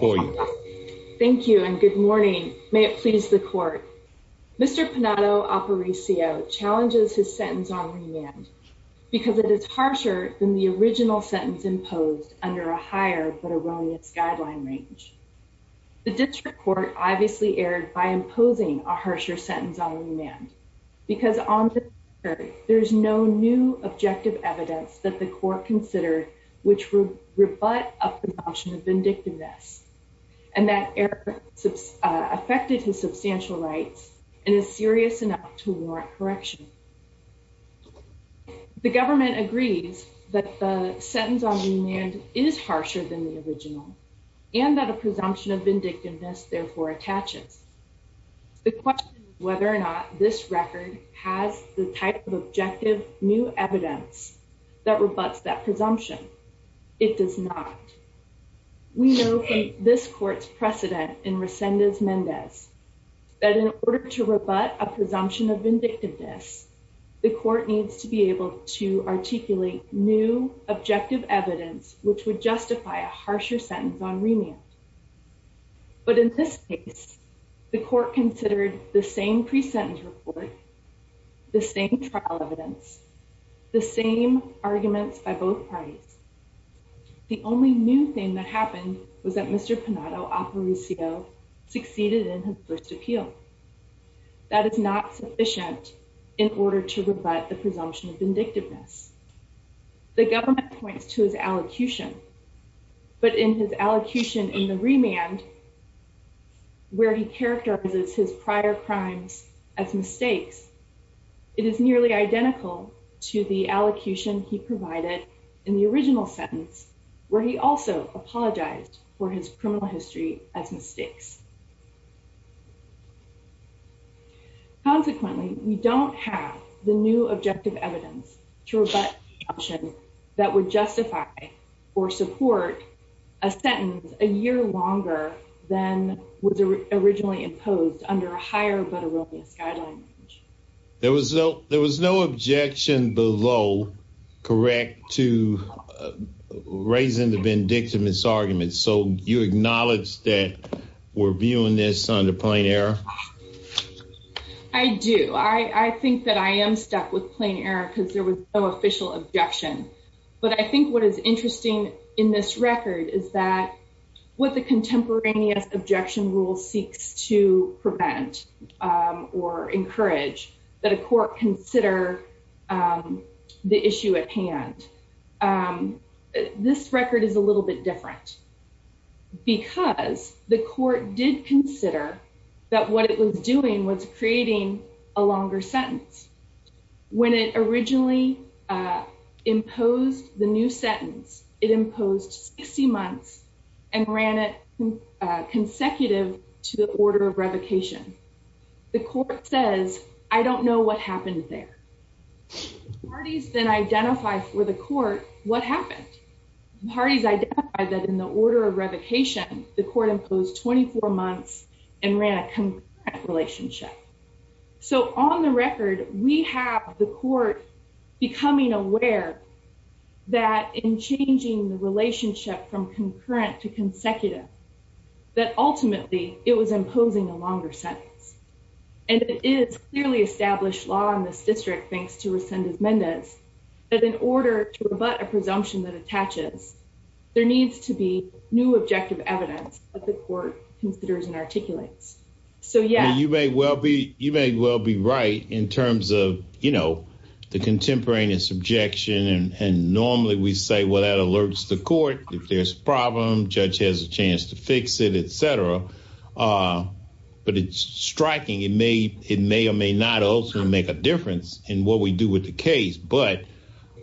Thank you and good morning. May it please the court. Mr. Penado-Aparicio challenges his sentence on remand because it is harsher than the original sentence imposed under a higher but erroneous guideline range. The district court obviously erred by imposing a harsher sentence on remand because on the record there is no new objective evidence that the court considered which would rebut a presumption of vindictiveness. And that error affected his substantial rights and is serious enough to warrant correction. The government agrees that the sentence on remand is harsher than the original and that a presumption of vindictiveness therefore attaches. The question is whether or not this record has the type of objective new evidence that rebuts that presumption. It does not. We know from this court's precedent in Resendez-Mendez that in order to rebut a presumption of vindictiveness, the court needs to be able to articulate new objective evidence which would justify a harsher sentence on remand. But in this case, the court considered the same pre-sentence report, the same trial evidence, the same arguments by both parties. The only new thing that happened was that Mr. Penado-Aparicio succeeded in his first appeal. That is not sufficient in order to rebut the his allocution in the remand where he characterizes his prior crimes as mistakes. It is nearly identical to the allocution he provided in the original sentence where he also apologized for his criminal history as mistakes. Consequently, we don't have the new objective evidence to rebut a sentence a year longer than was originally imposed under a higher but erroneous guideline. There was no objection below, correct, to raising the vindictiveness argument. So you acknowledge that we're viewing this under plain error? I do. I think that I am stuck with plain error because there was no official objection. But I think what is interesting in this record is that what the contemporaneous objection rule seeks to prevent or encourage that a court consider the issue at hand. This record is a little bit different because the court did consider that what it imposed 60 months and ran it consecutive to the order of revocation. The court says, I don't know what happened there. Parties then identify for the court what happened. Parties identified that in the order of revocation, the court imposed 24 months and ran a contract relationship. So on the record, we have the court becoming aware that in changing the relationship from concurrent to consecutive, that ultimately, it was imposing a longer sentence. And it is clearly established law in this district, thanks to Resendez-Mendez, that in order to rebut a presumption that attaches, there needs to be new objective evidence that the court considers and articulates. You may well be right in terms of, you know, the contemporaneous objection. And normally we say, well, that alerts the court. If there's a problem, judge has a chance to fix it, etc. But it's striking. It may or may not also make a difference in what we do with the case. But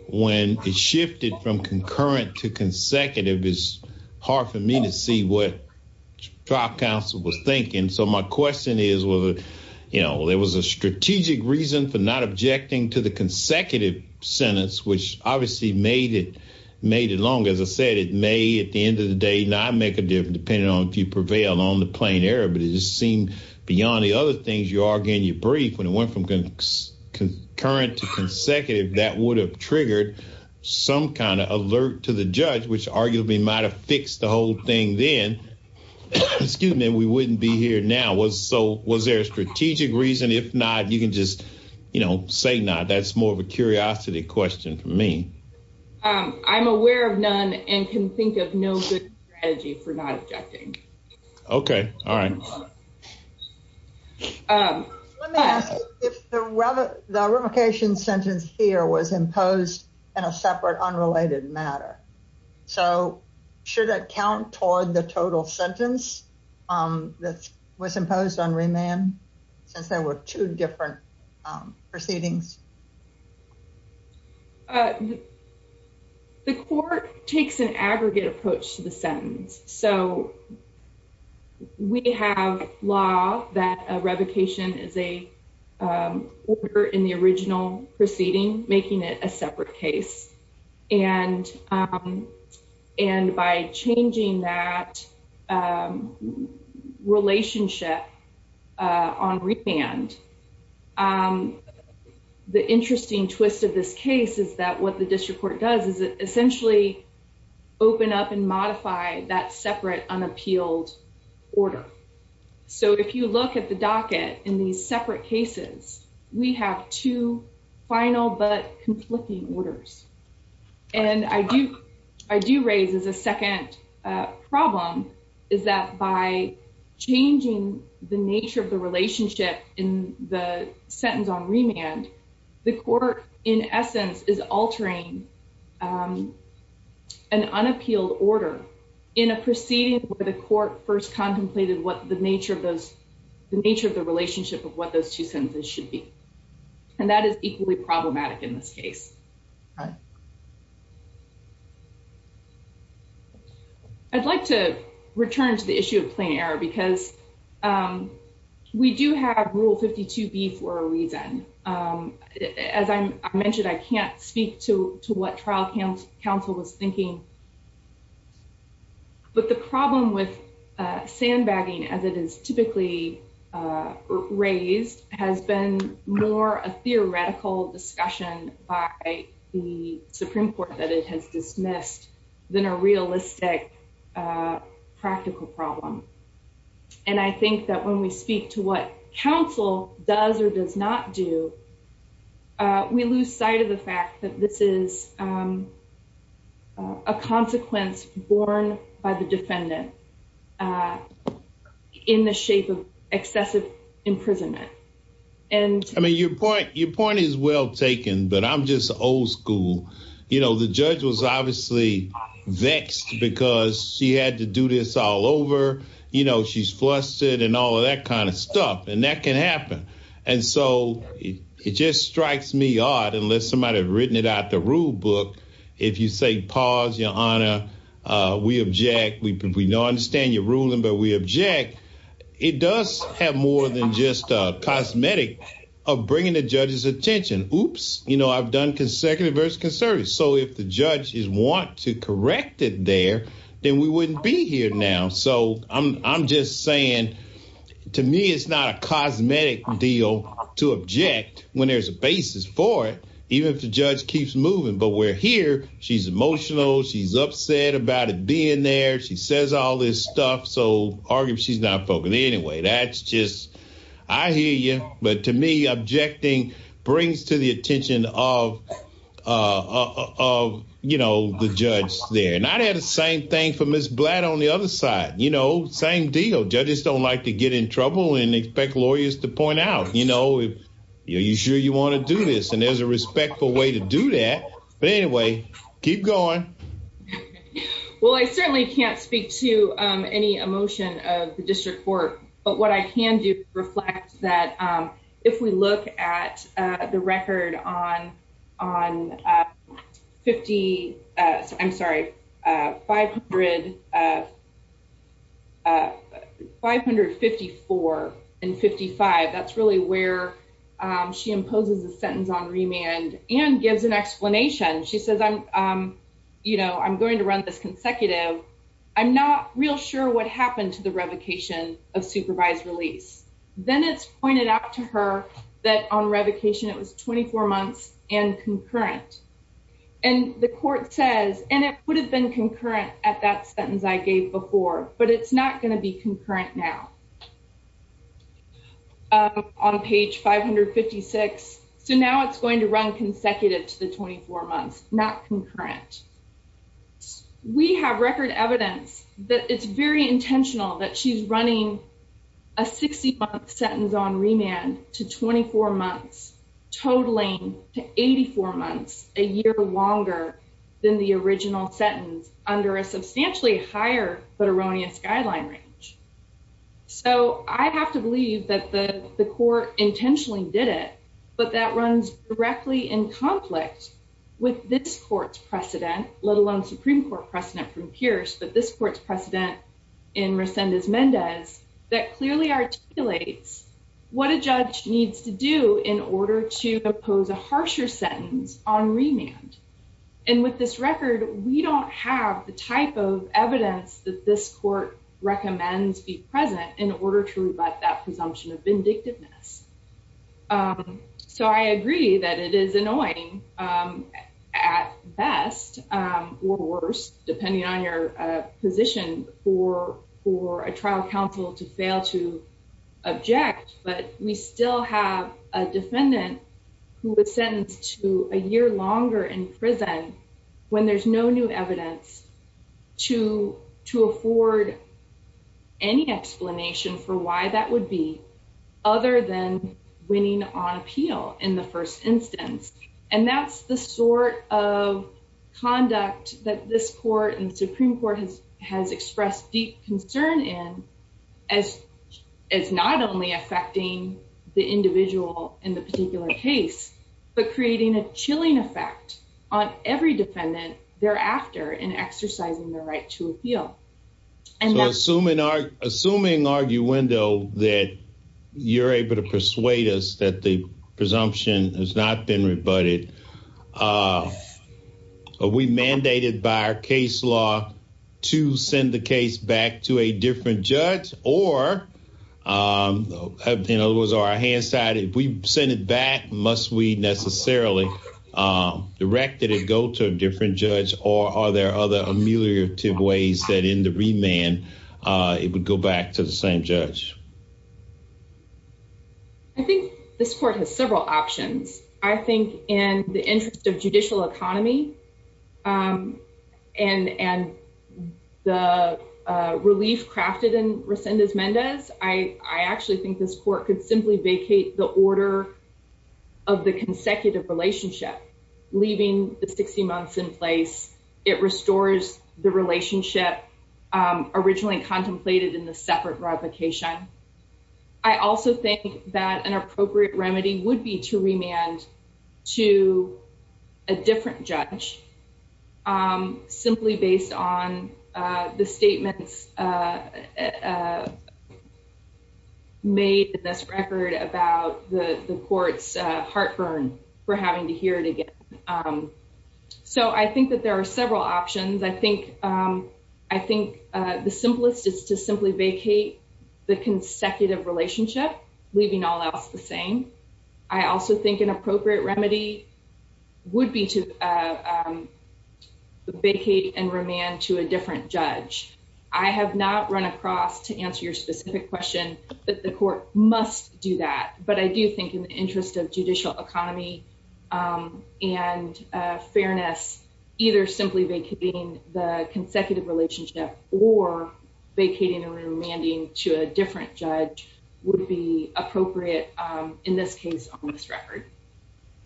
when it shifted from concurrent to consecutive, it's hard for me to see what trial counsel was thinking. So my question is, you know, there was a strategic reason for not objecting to the consecutive sentence, which obviously made it long. As I said, it may, at the end of the day, not make a difference, depending on if you prevail on the plain error. But it just seemed beyond the other things you argue in your brief, when it went from concurrent to consecutive, that would have triggered some kind of alert to the judge, which arguably might have fixed the whole thing then. Excuse me, we wouldn't be here now. So was there a strategic reason? If not, you can just, you know, say not. That's more of a curiosity question for me. I'm aware of none and can think of no good strategy for not objecting. Okay, all right. Let me ask if the revocation sentence here was imposed in a separate, unrelated matter. So should it count toward the total sentence that was imposed on remand, since there were two different proceedings? The court takes an aggregate approach to the sentence. So we have law that a revocation is a order in the original proceeding, making it a The interesting twist of this case is that what the district court does is essentially open up and modify that separate unappealed order. So if you look at the docket in these separate cases, we have two final but conflicting orders. And I do, I do raise as a second problem, is that by changing the nature of the relationship in the sentence on remand, the court, in essence, is altering an unappealed order in a proceeding where the court first contemplated what the nature of those, the nature of the relationship of what those two sentences should be. And that is equally problematic in this case. All right. I'd like to return to the issue of plain error because we do have Rule 52B for a reason. As I mentioned, I can't speak to what trial counsel was thinking. But the problem with sandbagging as it is typically raised has been more a theoretical discussion by the Supreme Court that it has dismissed than a realistic practical problem. And I think that when we speak to what counsel does or does not do, we lose sight of the fact that this is a consequence borne by the defendant in the shape of excessive imprisonment. And- I mean, your point, your point is well taken, but I'm just old school. You know, the judge was obviously vexed because she had to do this all over. You know, she's flustered and all of that kind of stuff. And that can happen. And so it just strikes me odd, unless somebody had written it out the rule book, if you say, pause, your honor, we object, we don't understand your ruling, but we object. It does have more than just a cosmetic of bringing the judge's attention. Oops, you know, I've done consecutive versus conservative. So if the judge is want to correct it there, then we wouldn't be here now. So I'm just saying to me, it's not a cosmetic deal to object when there's a basis for it, even if the judge keeps moving. But we're here. She's emotional. She's upset about it being there. She says all this stuff. So arguably she's not focused. Anyway, that's just, I hear you. But to me, objecting brings to the attention of, you know, the judge there. And I'd say the same thing for Ms. Blatt on the other side, you know, same deal. Judges don't like to get in trouble and expect lawyers to point out, you know, are you sure you want to do this? And there's a respectful way to do that. But anyway, keep going. Well, I certainly can't speak to any emotion of district court. But what I can do reflect that if we look at the record on 50, I'm sorry, 554 and 55, that's really where she imposes a sentence on remand and gives an explanation. She says, you know, I'm going to run this consecutive. I'm not real sure what happened to the revocation of supervised release. Then it's pointed out to her that on revocation, it was 24 months and concurrent. And the court says, and it would have been concurrent at that sentence I gave before, but it's not going to be concurrent now. On page 556. So now it's going to run consecutive to the 24 months, not concurrent. We have record evidence that it's very intentional that she's running a 60 month sentence on remand to 24 months, totaling to 84 months, a year longer than the original sentence under a substantially higher, but erroneous guideline range. So I have to believe that the court intentionally did it, but that runs directly in conflict with this court's precedent, let alone Supreme Court precedent from Pierce, but this court's precedent in Resendez-Mendez that clearly articulates what a judge needs to do in order to impose a harsher sentence on remand. And with this record, we don't have the type of evidence that this court recommends be present in order to rebut that presumption of vindictiveness. So I agree that it is annoying at best or worse, depending on your position for a trial counsel to fail to object, but we still have a defendant who was sentenced to a year longer in prison when there's no new evidence to afford any explanation for why that would be, other than winning on appeal in the first instance. And that's the sort of conduct that this court and Supreme Court has expressed deep concern in as not only affecting the individual in the particular case, but creating a chilling effect on every defendant thereafter in exercising their right to appeal. So assuming arguendo that you're able to persuade us that the presumption has not been rebutted, are we mandated by our case law to send the case back to a different judge? Or, in other words, are our hands tied? If we send it back, must we necessarily direct that it go to a different judge? Or are there other ameliorative ways that in the remand, it would go back to the same judge? I think this court has several options. I think in the interest of judicial economy and the relief crafted in Resendez-Mendez, I actually think this court could simply vacate the order of the consecutive relationship, leaving the 60 months in place. It restores the relationship originally contemplated in the separate revocation. I also think that an appropriate remedy would be to remand to a different judge, simply based on the statements made in this record about the court's heartburn for having to hear it again. So I think that there are several options. I think the simplest is to simply vacate the consecutive relationship, leaving all else the same. I also think an appropriate remedy would be to vacate and remand to a different judge. I have not run across, to answer your specific question, that the court must do that. But I do think in the interest of judicial economy and fairness, either simply vacating the consecutive relationship or vacating and remanding to a different judge would be appropriate in this case on this record.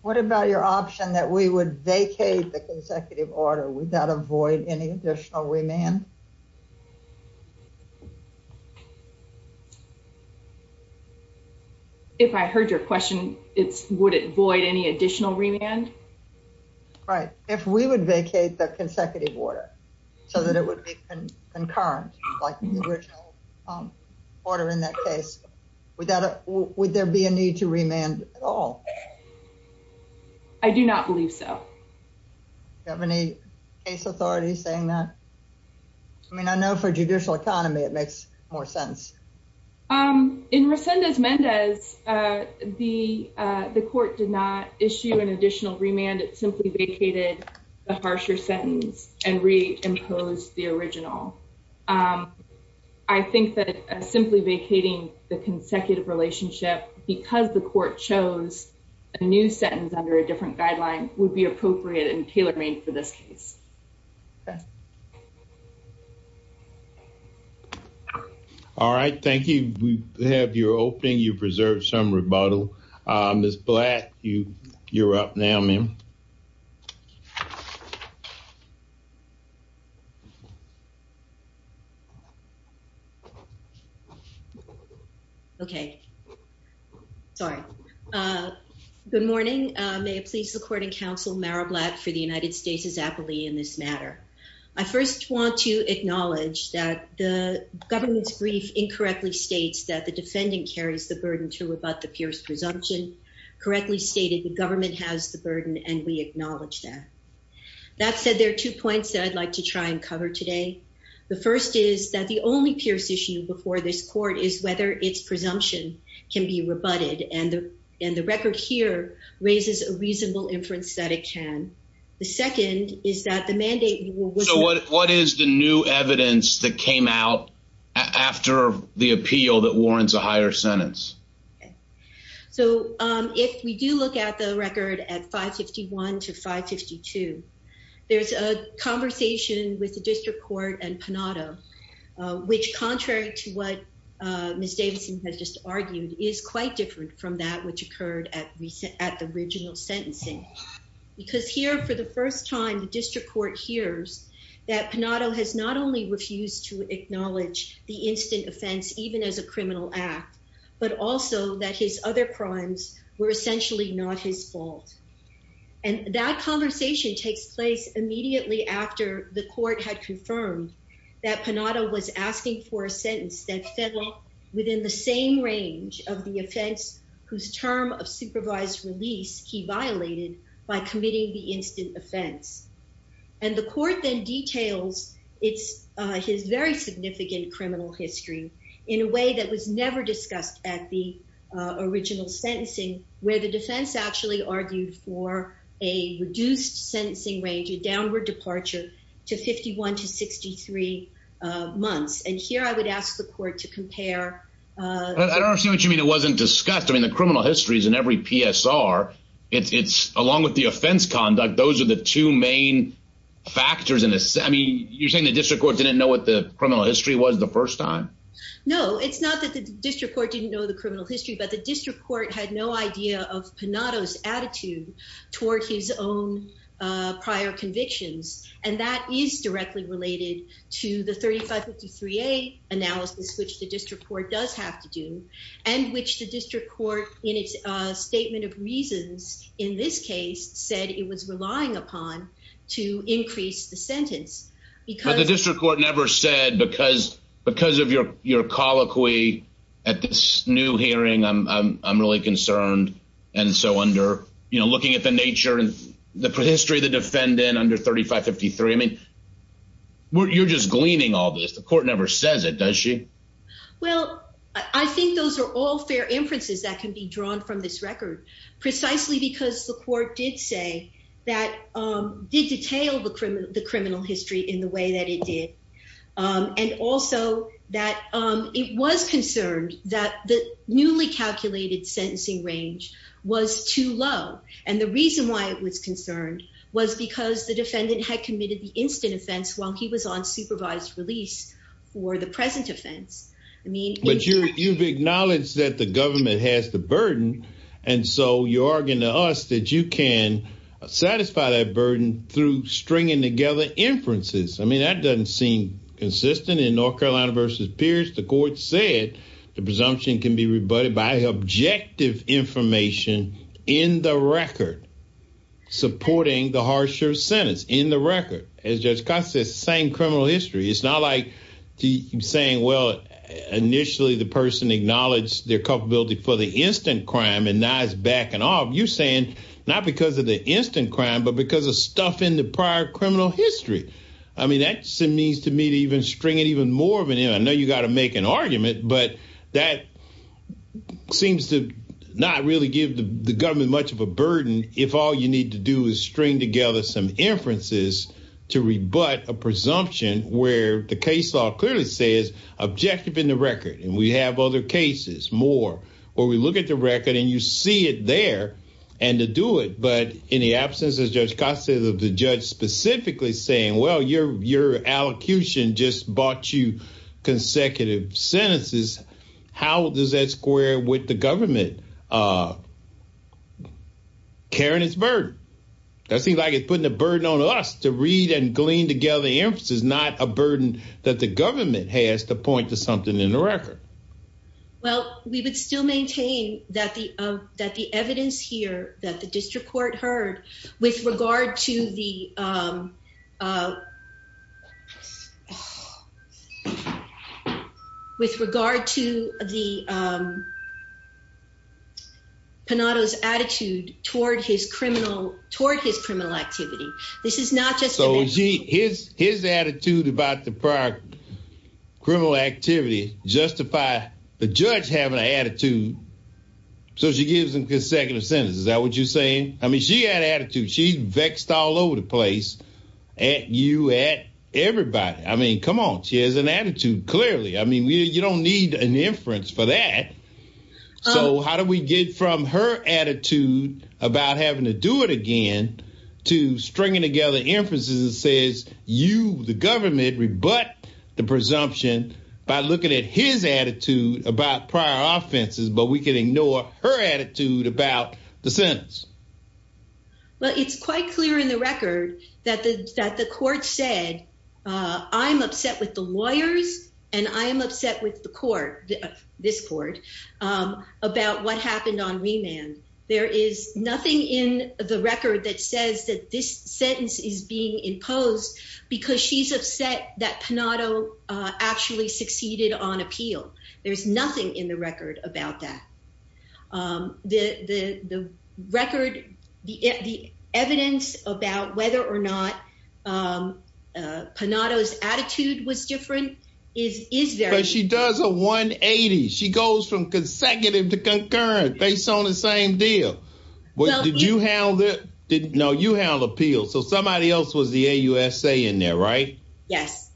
What about your option that we would vacate the consecutive order without avoid any additional remand? Right. If we would vacate the consecutive order so that it would be concurrent, like the original order in that case, would there be a need to remand at all? I do not believe so. Do you have any case authorities saying that? I mean, I know for judicial economy, it makes more sense. Um, in Resendez-Mendez, the court did not issue an additional remand. It simply vacated a harsher sentence and reimposed the original. I think that simply vacating the consecutive relationship because the court chose a new sentence under a different guideline would be appropriate in Peelermaine for this case. All right. Thank you. We have your opening. You've preserved some rebuttal. Ms. Blatt, you're up now, ma'am. Okay. Sorry. Good morning. May it please the court and counsel, Meryl Blatt for the United States' appellee in this matter. I first want to acknowledge that the government's brief incorrectly states that the defendant carries the burden to rebut the peer's presumption, correctly stated the government has the burden, and we acknowledge that. That said, there are two points that I'd like to try and cover today. The first is that the only peer's issue before this court is whether its presumption can be rebutted. And the record here raises a reasonable inference that it can. The second is that the mandate... What is the new evidence that came out after the appeal that warrants a higher sentence? Okay. So if we do look at the record at 551 to 552, there's a conversation with the district court and Panotto, which contrary to what Ms. Davidson has just argued, is quite different from that which occurred at the original sentencing. Because here, for the first time, the district court hears that Panotto has not only refused to acknowledge the instant offense, even as a criminal act, but also that his other crimes were essentially not his fault. And that conversation takes place immediately after the court had confirmed that Panotto was asking for a sentence that fell within the same range of the offense whose term of supervised release he violated by committing the instant offense. And the court then details his very in a way that was never discussed at the original sentencing, where the defense actually argued for a reduced sentencing range, a downward departure to 51 to 63 months. And here I would ask the court to compare... I don't understand what you mean it wasn't discussed. I mean, the criminal histories in every PSR, it's along with the offense conduct, those are the two main factors in this. I mean, you're saying the district court didn't know what the criminal history was the first time? No, it's not that the district court didn't know the criminal history, but the district court had no idea of Panotto's attitude toward his own prior convictions. And that is directly related to the 3553A analysis, which the district court does have to do, and which the district court in its statement of reasons in this case said it was relying upon to increase the sentence. But the district court never said because of your colloquy at this new hearing, I'm really concerned. And so under, you know, looking at the nature and the history of the defendant under 3553, I mean, you're just gleaning all this. The court never says it, does she? Well, I think those are all fair inferences that can be drawn from this record, precisely because the court did say that, did detail the criminal history in the way that it did. And also that it was concerned that the newly calculated sentencing range was too low. And the reason why it was concerned was because the defendant had committed the instant offense while he was on supervised release for the present offense. I mean- But you've acknowledged that the you're arguing to us that you can satisfy that burden through stringing together inferences. I mean, that doesn't seem consistent in North Carolina versus Pierce. The court said the presumption can be rebutted by objective information in the record, supporting the harsher sentence in the record. As Judge Costa says, the same criminal history. It's not like saying, well, initially the person acknowledged their culpability for the instant crime and now it's backing off. You're saying not because of the instant crime, but because of stuff in the prior criminal history. I mean, that seems to me to even string it even more of an end. I know you got to make an argument, but that seems to not really give the government much of a burden if all you need to do is string together some inferences to rebut a presumption where the case law clearly says objective in the record. And we have other cases, more, where we look at the record and you see it there and to do it. But in the absence of Judge Costa, the judge specifically saying, well, your allocution just bought you consecutive sentences. How does that square with the government carrying its burden? That seems like it's putting a burden on us to read and glean together inferences, not a burden that the government has to point to something in the record. Well, we would still maintain that the evidence here that the district court heard with regard to the, um, uh, with regard to the, um, Panotto's attitude toward his criminal, toward his criminal activity. This is not just- his attitude about the prior criminal activity justify the judge having an attitude so she gives him consecutive sentences. Is that what you're saying? I mean, she had attitude. She vexed all over the place at you, at everybody. I mean, come on. She has an attitude, clearly. I mean, you don't need an inference for that. So how do we get from her attitude about having to do it to stringing together inferences that says you, the government, rebut the presumption by looking at his attitude about prior offenses, but we can ignore her attitude about the sentence? Well, it's quite clear in the record that the, that the court said, uh, I'm upset with the lawyers and I am upset with the court, this court, um, about what happened on remand. There is nothing in the record that says that this sentence is being imposed because she's upset that Panotto, uh, actually succeeded on appeal. There's nothing in the record about that. Um, the, the, the record, the, the evidence about whether or not, um, uh, Panotto's attitude was different is, is very- But she does a 180. She goes from consecutive to concurrent based on the same deal. Well, did you handle it? No, you handled appeals. So somebody else was the AUSA in there, right? Yes.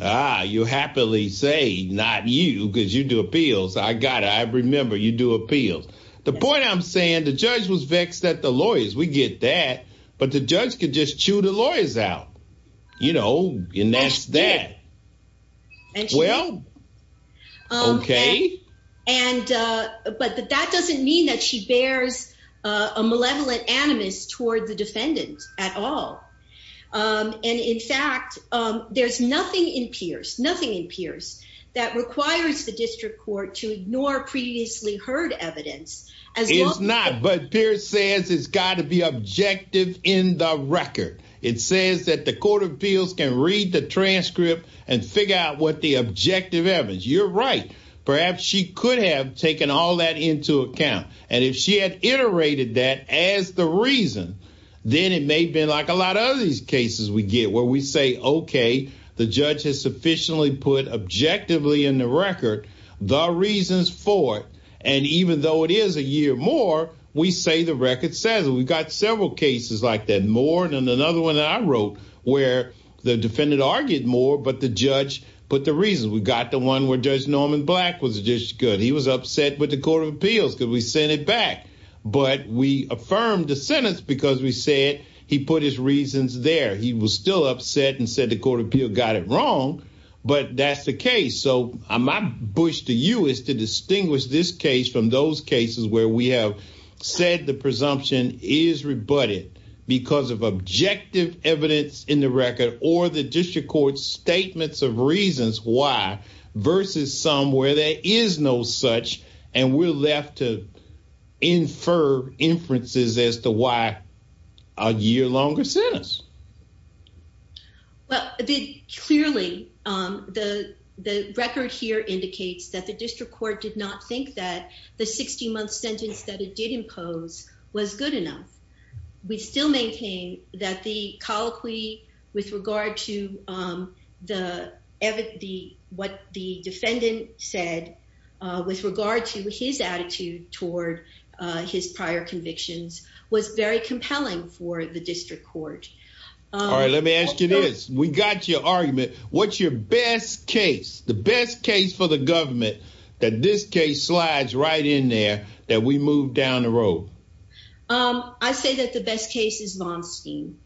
Ah, you happily say not you because you do appeals. I got it. I remember you do appeals. The point I'm saying, the judge was vexed at the lawyers. We get that, but the judge could just chew the lawyers out, you know, and that's that. Well, okay. And, uh, but that doesn't mean that she bears, uh, a malevolent animus toward the defendant at all. Um, and in fact, um, there's nothing in Pierce, nothing in Pierce that requires the district court to ignore previously heard evidence as well. It's not, but Pierce says it's got to be objective in the record. It says that the court of appeals can read the transcript and figure out the objective evidence. You're right. Perhaps she could have taken all that into account. And if she had iterated that as the reason, then it may have been like a lot of these cases we get where we say, okay, the judge has sufficiently put objectively in the record the reasons for it. And even though it is a year more, we say the record says we've got several cases like that, another one that I wrote where the defendant argued more, but the judge put the reason we got the one where judge Norman black was just good. He was upset with the court of appeals because we sent it back, but we affirmed the sentence because we said he put his reasons there. He was still upset and said the court of appeal got it wrong, but that's the case. So I'm not Bush to you is to distinguish this case from those cases where we have said the presumption is rebutted because of objective evidence in the record or the district court statements of reasons why versus some where there is no such, and we're left to infer inferences as to why a year longer sentence. Well, clearly the record here indicates that the district court did not think that the 60 month sentence that it did impose was good enough. We still maintain that the colloquy with regard to the, what the defendant said with regard to his attitude toward his prior convictions was very compelling for the district court. All right, let me ask you this. We got your argument. What's your best case, the best case for the government that this case slides right in there that we moved down the road? I say that the best case is long scheme.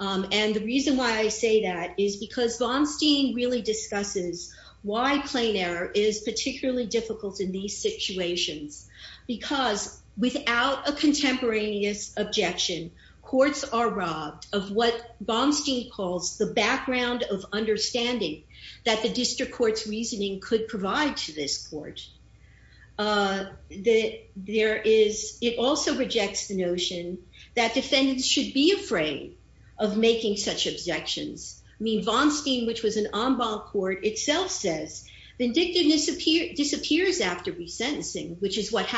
And the reason why I say that is because von stein really discusses why plain error is particularly difficult in these situations because without a contemporaneous objection, courts are robbed of what von stein calls the background of understanding that the district court's reasoning could provide to this court. There is, it also rejects the notion that defendants should be afraid of making such objections. I mean, von stein, which was an en bas court itself says vindictiveness appear disappears after resentencing, which is what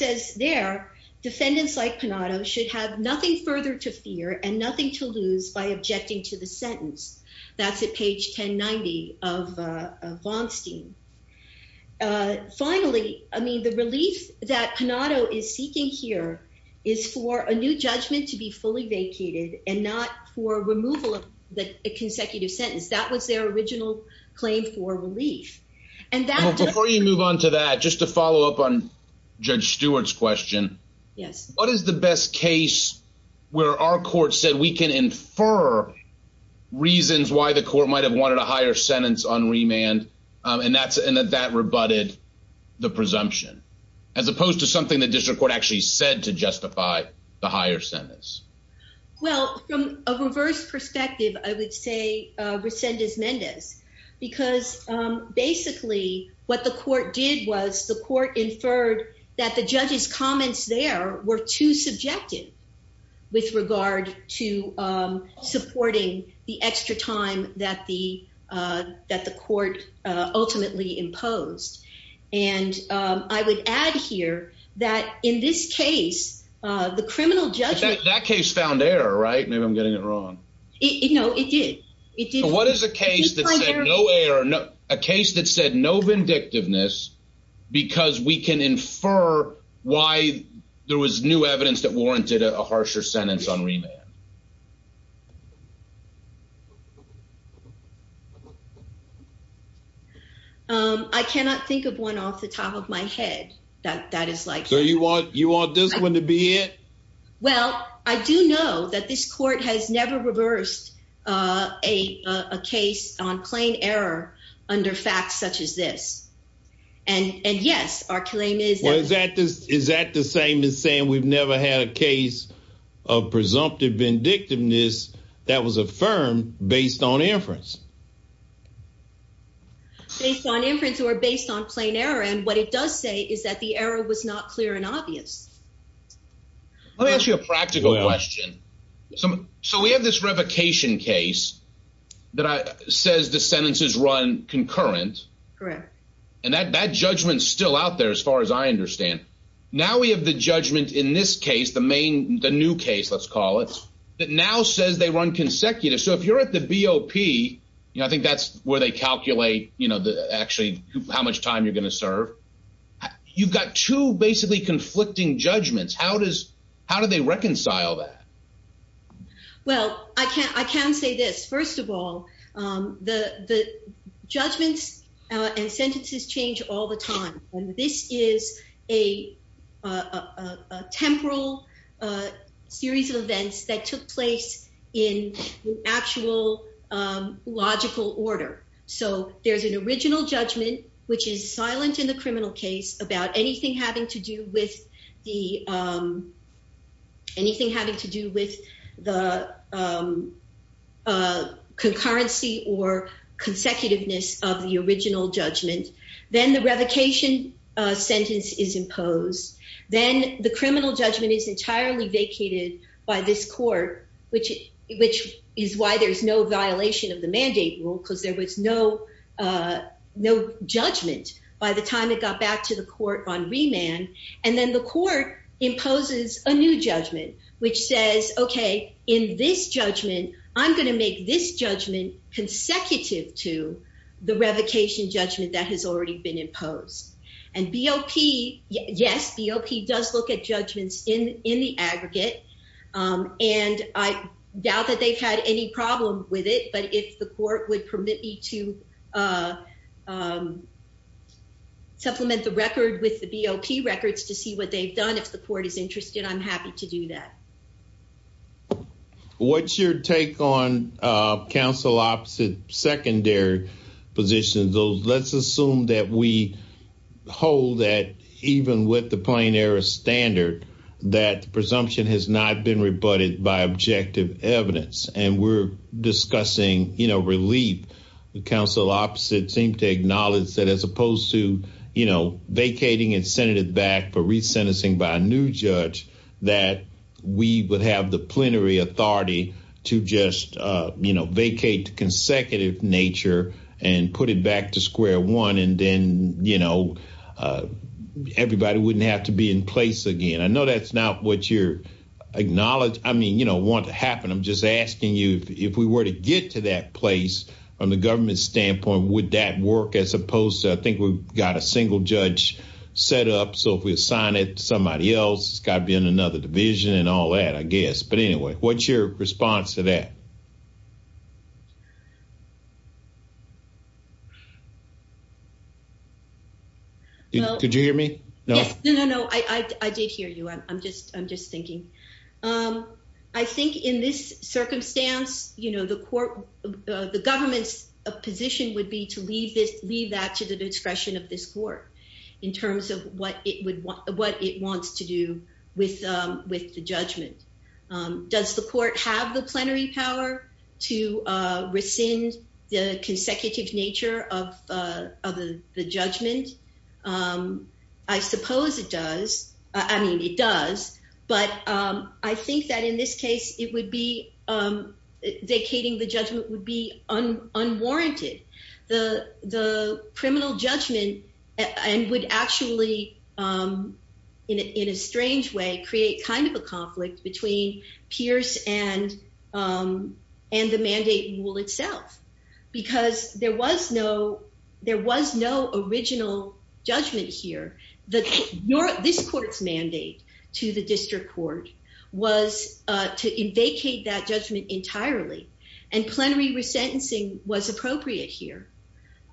says their defendants like panado should have nothing further to fear and nothing to lose by objecting to the sentence. That's at page 10, 90 of von stein. Finally, I mean, the relief that panado is seeking here is for a new judgment to be fully vacated and not for removal of the consecutive sentence that was their original claim for relief. And before you move on to that, just to follow up on Judge Stewart's question. Yes. What is the best case where our court said we can infer reasons why the court might have wanted a higher sentence on remand? And that's in that that rebutted the presumption, as opposed to something that district court actually said to justify the higher sentence? Well, from a reverse perspective, I would say, resend is Mendez, because basically what the court did was the court inferred that the judges comments there were too subjective with regard to supporting the extra time that the that the court ultimately imposed. And I would add here that in this case, the criminal judge that case found error, right? I'm getting it wrong. No, it did. It did. What is the case that said no error, a case that said no vindictiveness, because we can infer why there was new evidence that warranted a harsher sentence on remand. I cannot think of one off the top of my head that that is like. So you want you want this one to be it? Well, I do know that this court has never reversed a case on plain error under facts such as this. And yes, our claim is that this is that the same as saying we've never had a case of presumptive vindictiveness that was affirmed based on inference. Based on inference or based on plain error, and what it does say is that the error was not clear and obvious. Let me ask you a practical question. So we have this revocation case that says the sentences run concurrent. And that that judgment is still out there as far as I understand. Now we have the judgment in this case, the main the new case, let's call it that now says they run consecutive. So if you're at the BOP, I think that's where they calculate, you know, actually how much time you're going to serve. You've got two basically conflicting judgments. How does how do they reconcile that? Well, I can't I can say this. First of all, the judgments and sentences change all the time. And this is a temporal series of events that took place in actual logical order. So there's an original judgment, which is silent in the criminal case about anything having to do with the anything having to do with the concurrency or consecutiveness of the original judgment. Then the revocation sentence is imposed. Then the criminal judgment is entirely vacated by this court, which which is why there's no violation of the mandate rule, because there was no no judgment by the time it got back to the court on remand. And then the court imposes a new judgment, which says, OK, in this judgment, I'm going to make this judgment consecutive to the revocation judgment that has already been imposed. And BOP, yes, BOP does look at judgments in in the aggregate. And I doubt that they've had any problem with it. But if the court would permit me to supplement the record with the BOP records to see what they've done, if the court is interested, I'm happy to do that. What's your take on counsel opposite secondary positions? Let's assume that we hold that even with the plain error standard, that presumption has not been rebutted by objective evidence. And we're discussing, you know, relief. The counsel opposite seemed to acknowledge that as opposed to, vacating and sending it back for re-sentencing by a new judge, that we would have the plenary authority to just vacate the consecutive nature and put it back to square one. And then, you know, everybody wouldn't have to be in place again. I know that's not what you're acknowledged. I mean, you don't want to happen. I'm just asking you if we were to get to that place from the government standpoint, would that work as opposed to, I think we've got a single judge set up. So if we assign it to somebody else, it's got to be in another division and all that, I guess. But anyway, what's your response to that? Could you hear me? No, no, no. I did hear you. I'm just thinking. I think in this circumstance, you know, the court, the government's position would be to leave that to the discretion of this court in terms of what it wants to do with the judgment. Does the court have the plenary power to rescind the consecutive nature of the judgment? I suppose it does. I mean, it does. But I think that in this case, it would be, vacating the judgment would be unwarranted. The criminal judgment would actually, in a strange way, create kind of a conflict between Pierce and the mandate rule itself. Because there was no original judgment here. This court's mandate to the district court was to vacate that judgment entirely. And plenary resentencing was appropriate here.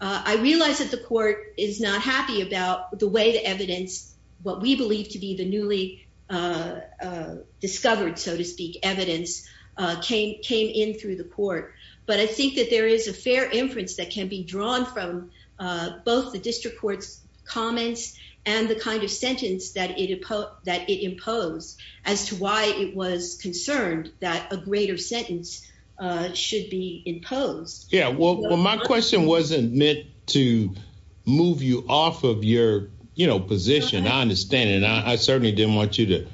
I realize that the court is not happy about the way the evidence, what we believe to be the newly discovered, so to speak, evidence came in through the court. But I think that there is a fair inference that can be drawn from both the district court's and the kind of sentence that it imposed as to why it was concerned that a greater sentence should be imposed. Yeah. Well, my question wasn't meant to move you off of your, you know, position. I understand. And I certainly didn't want you to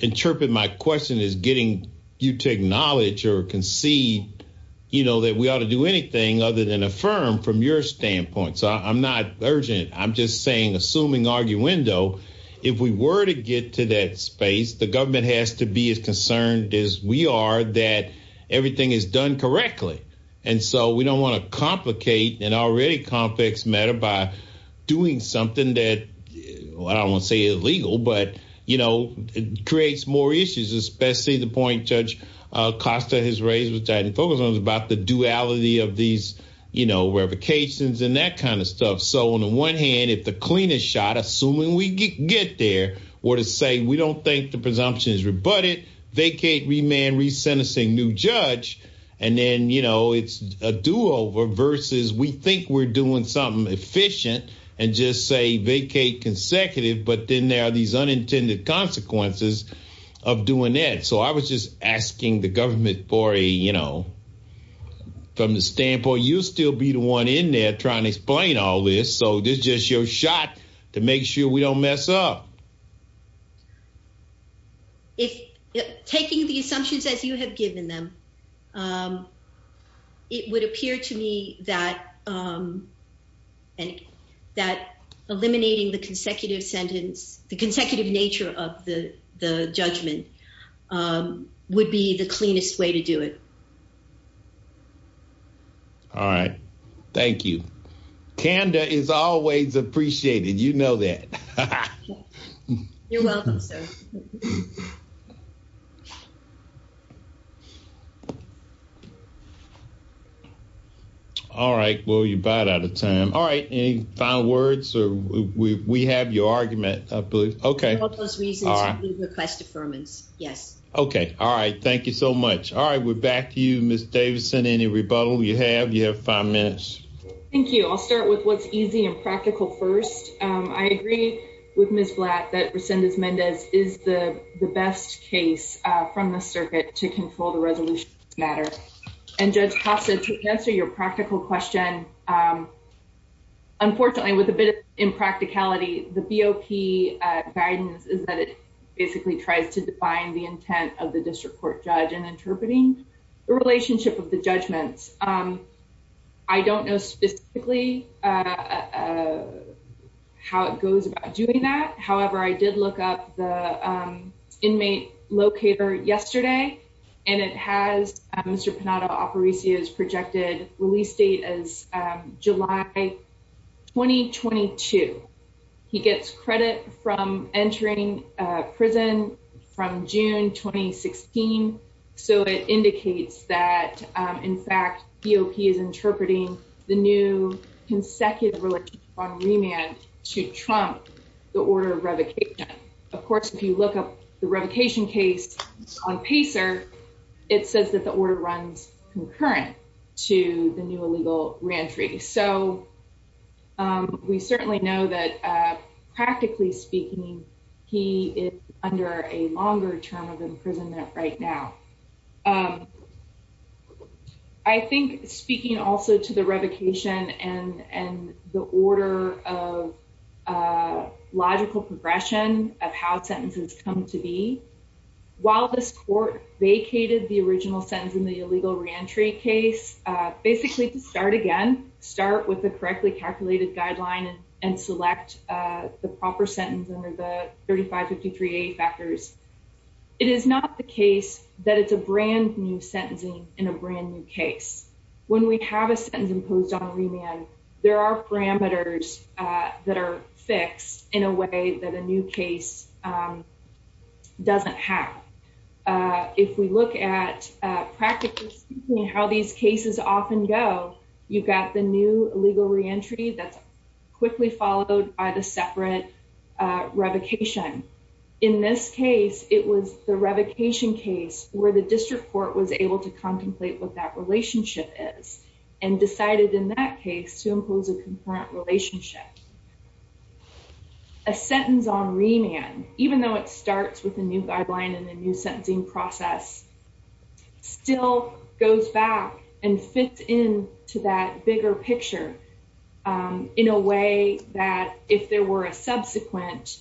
interpret my question as getting you to acknowledge or concede, you know, that we ought to do anything other than affirm from your standpoint. So I'm not urging it. I'm just saying, assuming arguendo, if we were to get to that space, the government has to be as concerned as we are that everything is done correctly. And so we don't want to complicate an already complex matter by doing something that, I don't want to say illegal, but, you know, creates more issues, especially the point Judge Costa has raised, which I didn't focus on, about the duality of these, you know, revocations and that kind of stuff. So on the one hand, if the cleanest shot, assuming we get there, were to say, we don't think the presumption is rebutted, vacate, remand, re-sentencing new judge. And then, you know, it's a do-over versus we think we're doing something efficient and just say vacate consecutive, but then there are these unintended consequences of doing that. So I was just asking the government for a, you know, from the standpoint, you'll still be the one in there trying to explain all this. So this is just your shot to make sure we don't mess up. If taking the assumptions as you have given them, it would appear to me that, that eliminating the consecutive sentence, the consecutive nature of the judgment would be the cleanest way to do it. All right. Thank you. Canda is always appreciated. You know that. You're welcome, sir. All right. Well, you're about out of time. All right. Any final words? Or we have your argument, I believe. Okay. Request affirmance. Yes. Okay. All right. Thank you so much. All right. We're back to you, Ms. Davidson. Any rebuttal you have? You have five minutes. Thank you. I'll start with what's easy and practical first. I agree with Ms. Blatt that Resendez-Mendez is the best case from the circuit to control the resolution matter. And Judge Costa, to answer your practical question, unfortunately, with a bit of practicality, the BOP guidance is that it basically tries to define the intent of the district court judge in interpreting the relationship of the judgments. I don't know specifically how it goes about doing that. However, I did look up the inmate locator yesterday, and it has Mr. Panetta-Aparicio's projected release date as July 2022. He gets credit from entering prison from June 2016. So it indicates that, in fact, BOP is interpreting the new consecutive relationship on remand to trump the order of revocation. Of course, if you look up the revocation case on PACER, it says that the order runs concurrent to the new illegal reentry. So we certainly know that, practically speaking, he is under a longer term of imprisonment right now. I think speaking also to the revocation and the order of logical progression of how sentences come to be, while this court vacated the original sentence in the illegal reentry case, basically to start again, start with the correctly calculated guideline and select the proper sentence under the 3553A factors, it is not the case that it's a brand new sentencing in a brand new case. When we have a sentence imposed on remand, there are parameters that are fixed in a way that a new case doesn't have. If we look at, practically speaking, how these cases often go, you've got the new illegal reentry that's quickly followed by the separate revocation. In this case, it was the revocation case where the district court was able to contemplate what that relationship is and decided in that case to impose a concurrent relationship. A sentence on remand, even though it starts with a new guideline and a new sentencing process, still goes back and fits into that bigger picture in a way that if there were a subsequent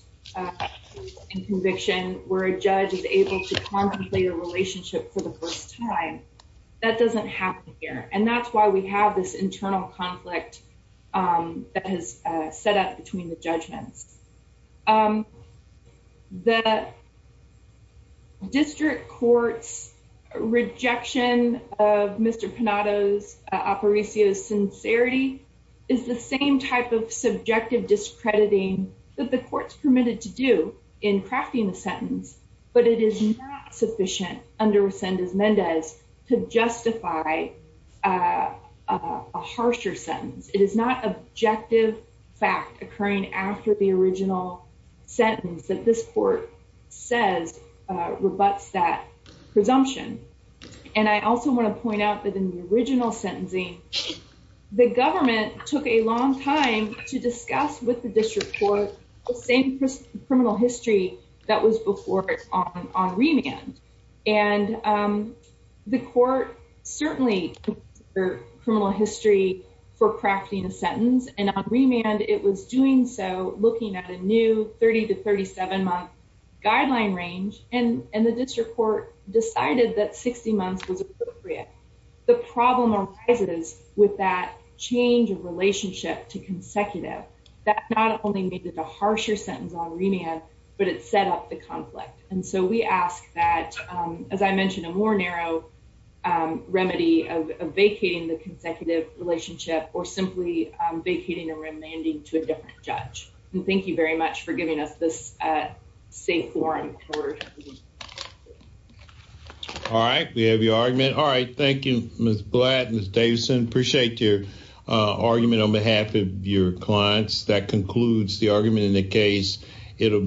conviction where a judge is able to contemplate a relationship for the first time, that doesn't happen here. And that's why we have this internal conflict that has set up between the judgments. The district court's rejection of Mr. Panato's, Aparicio's sincerity is the same type of subjective discrediting that the court's permitted to do in crafting the sentence, but it is not sufficient under Resendez-Mendez to justify a harsher sentence. It is not objective fact occurring after the original sentence that this court says rebuts that presumption. And I also want to point out that in the original sentencing, the government took a long time to discuss with the district court the same criminal history that was before it on remand. And the court certainly took their criminal history for crafting a sentence. And on remand, it was doing so looking at a new 30 to 37-month guideline range. And the with that change of relationship to consecutive, that not only made it a harsher sentence on remand, but it set up the conflict. And so we ask that, as I mentioned, a more narrow remedy of vacating the consecutive relationship or simply vacating a remanding to a different judge. And thank you very much for giving us this safe forum. All right. We have your argument. All right. Thank you, Ms. Blatt and Ms. Davidson. Appreciate your argument on behalf of your clients. That concludes the argument in the case. It'll be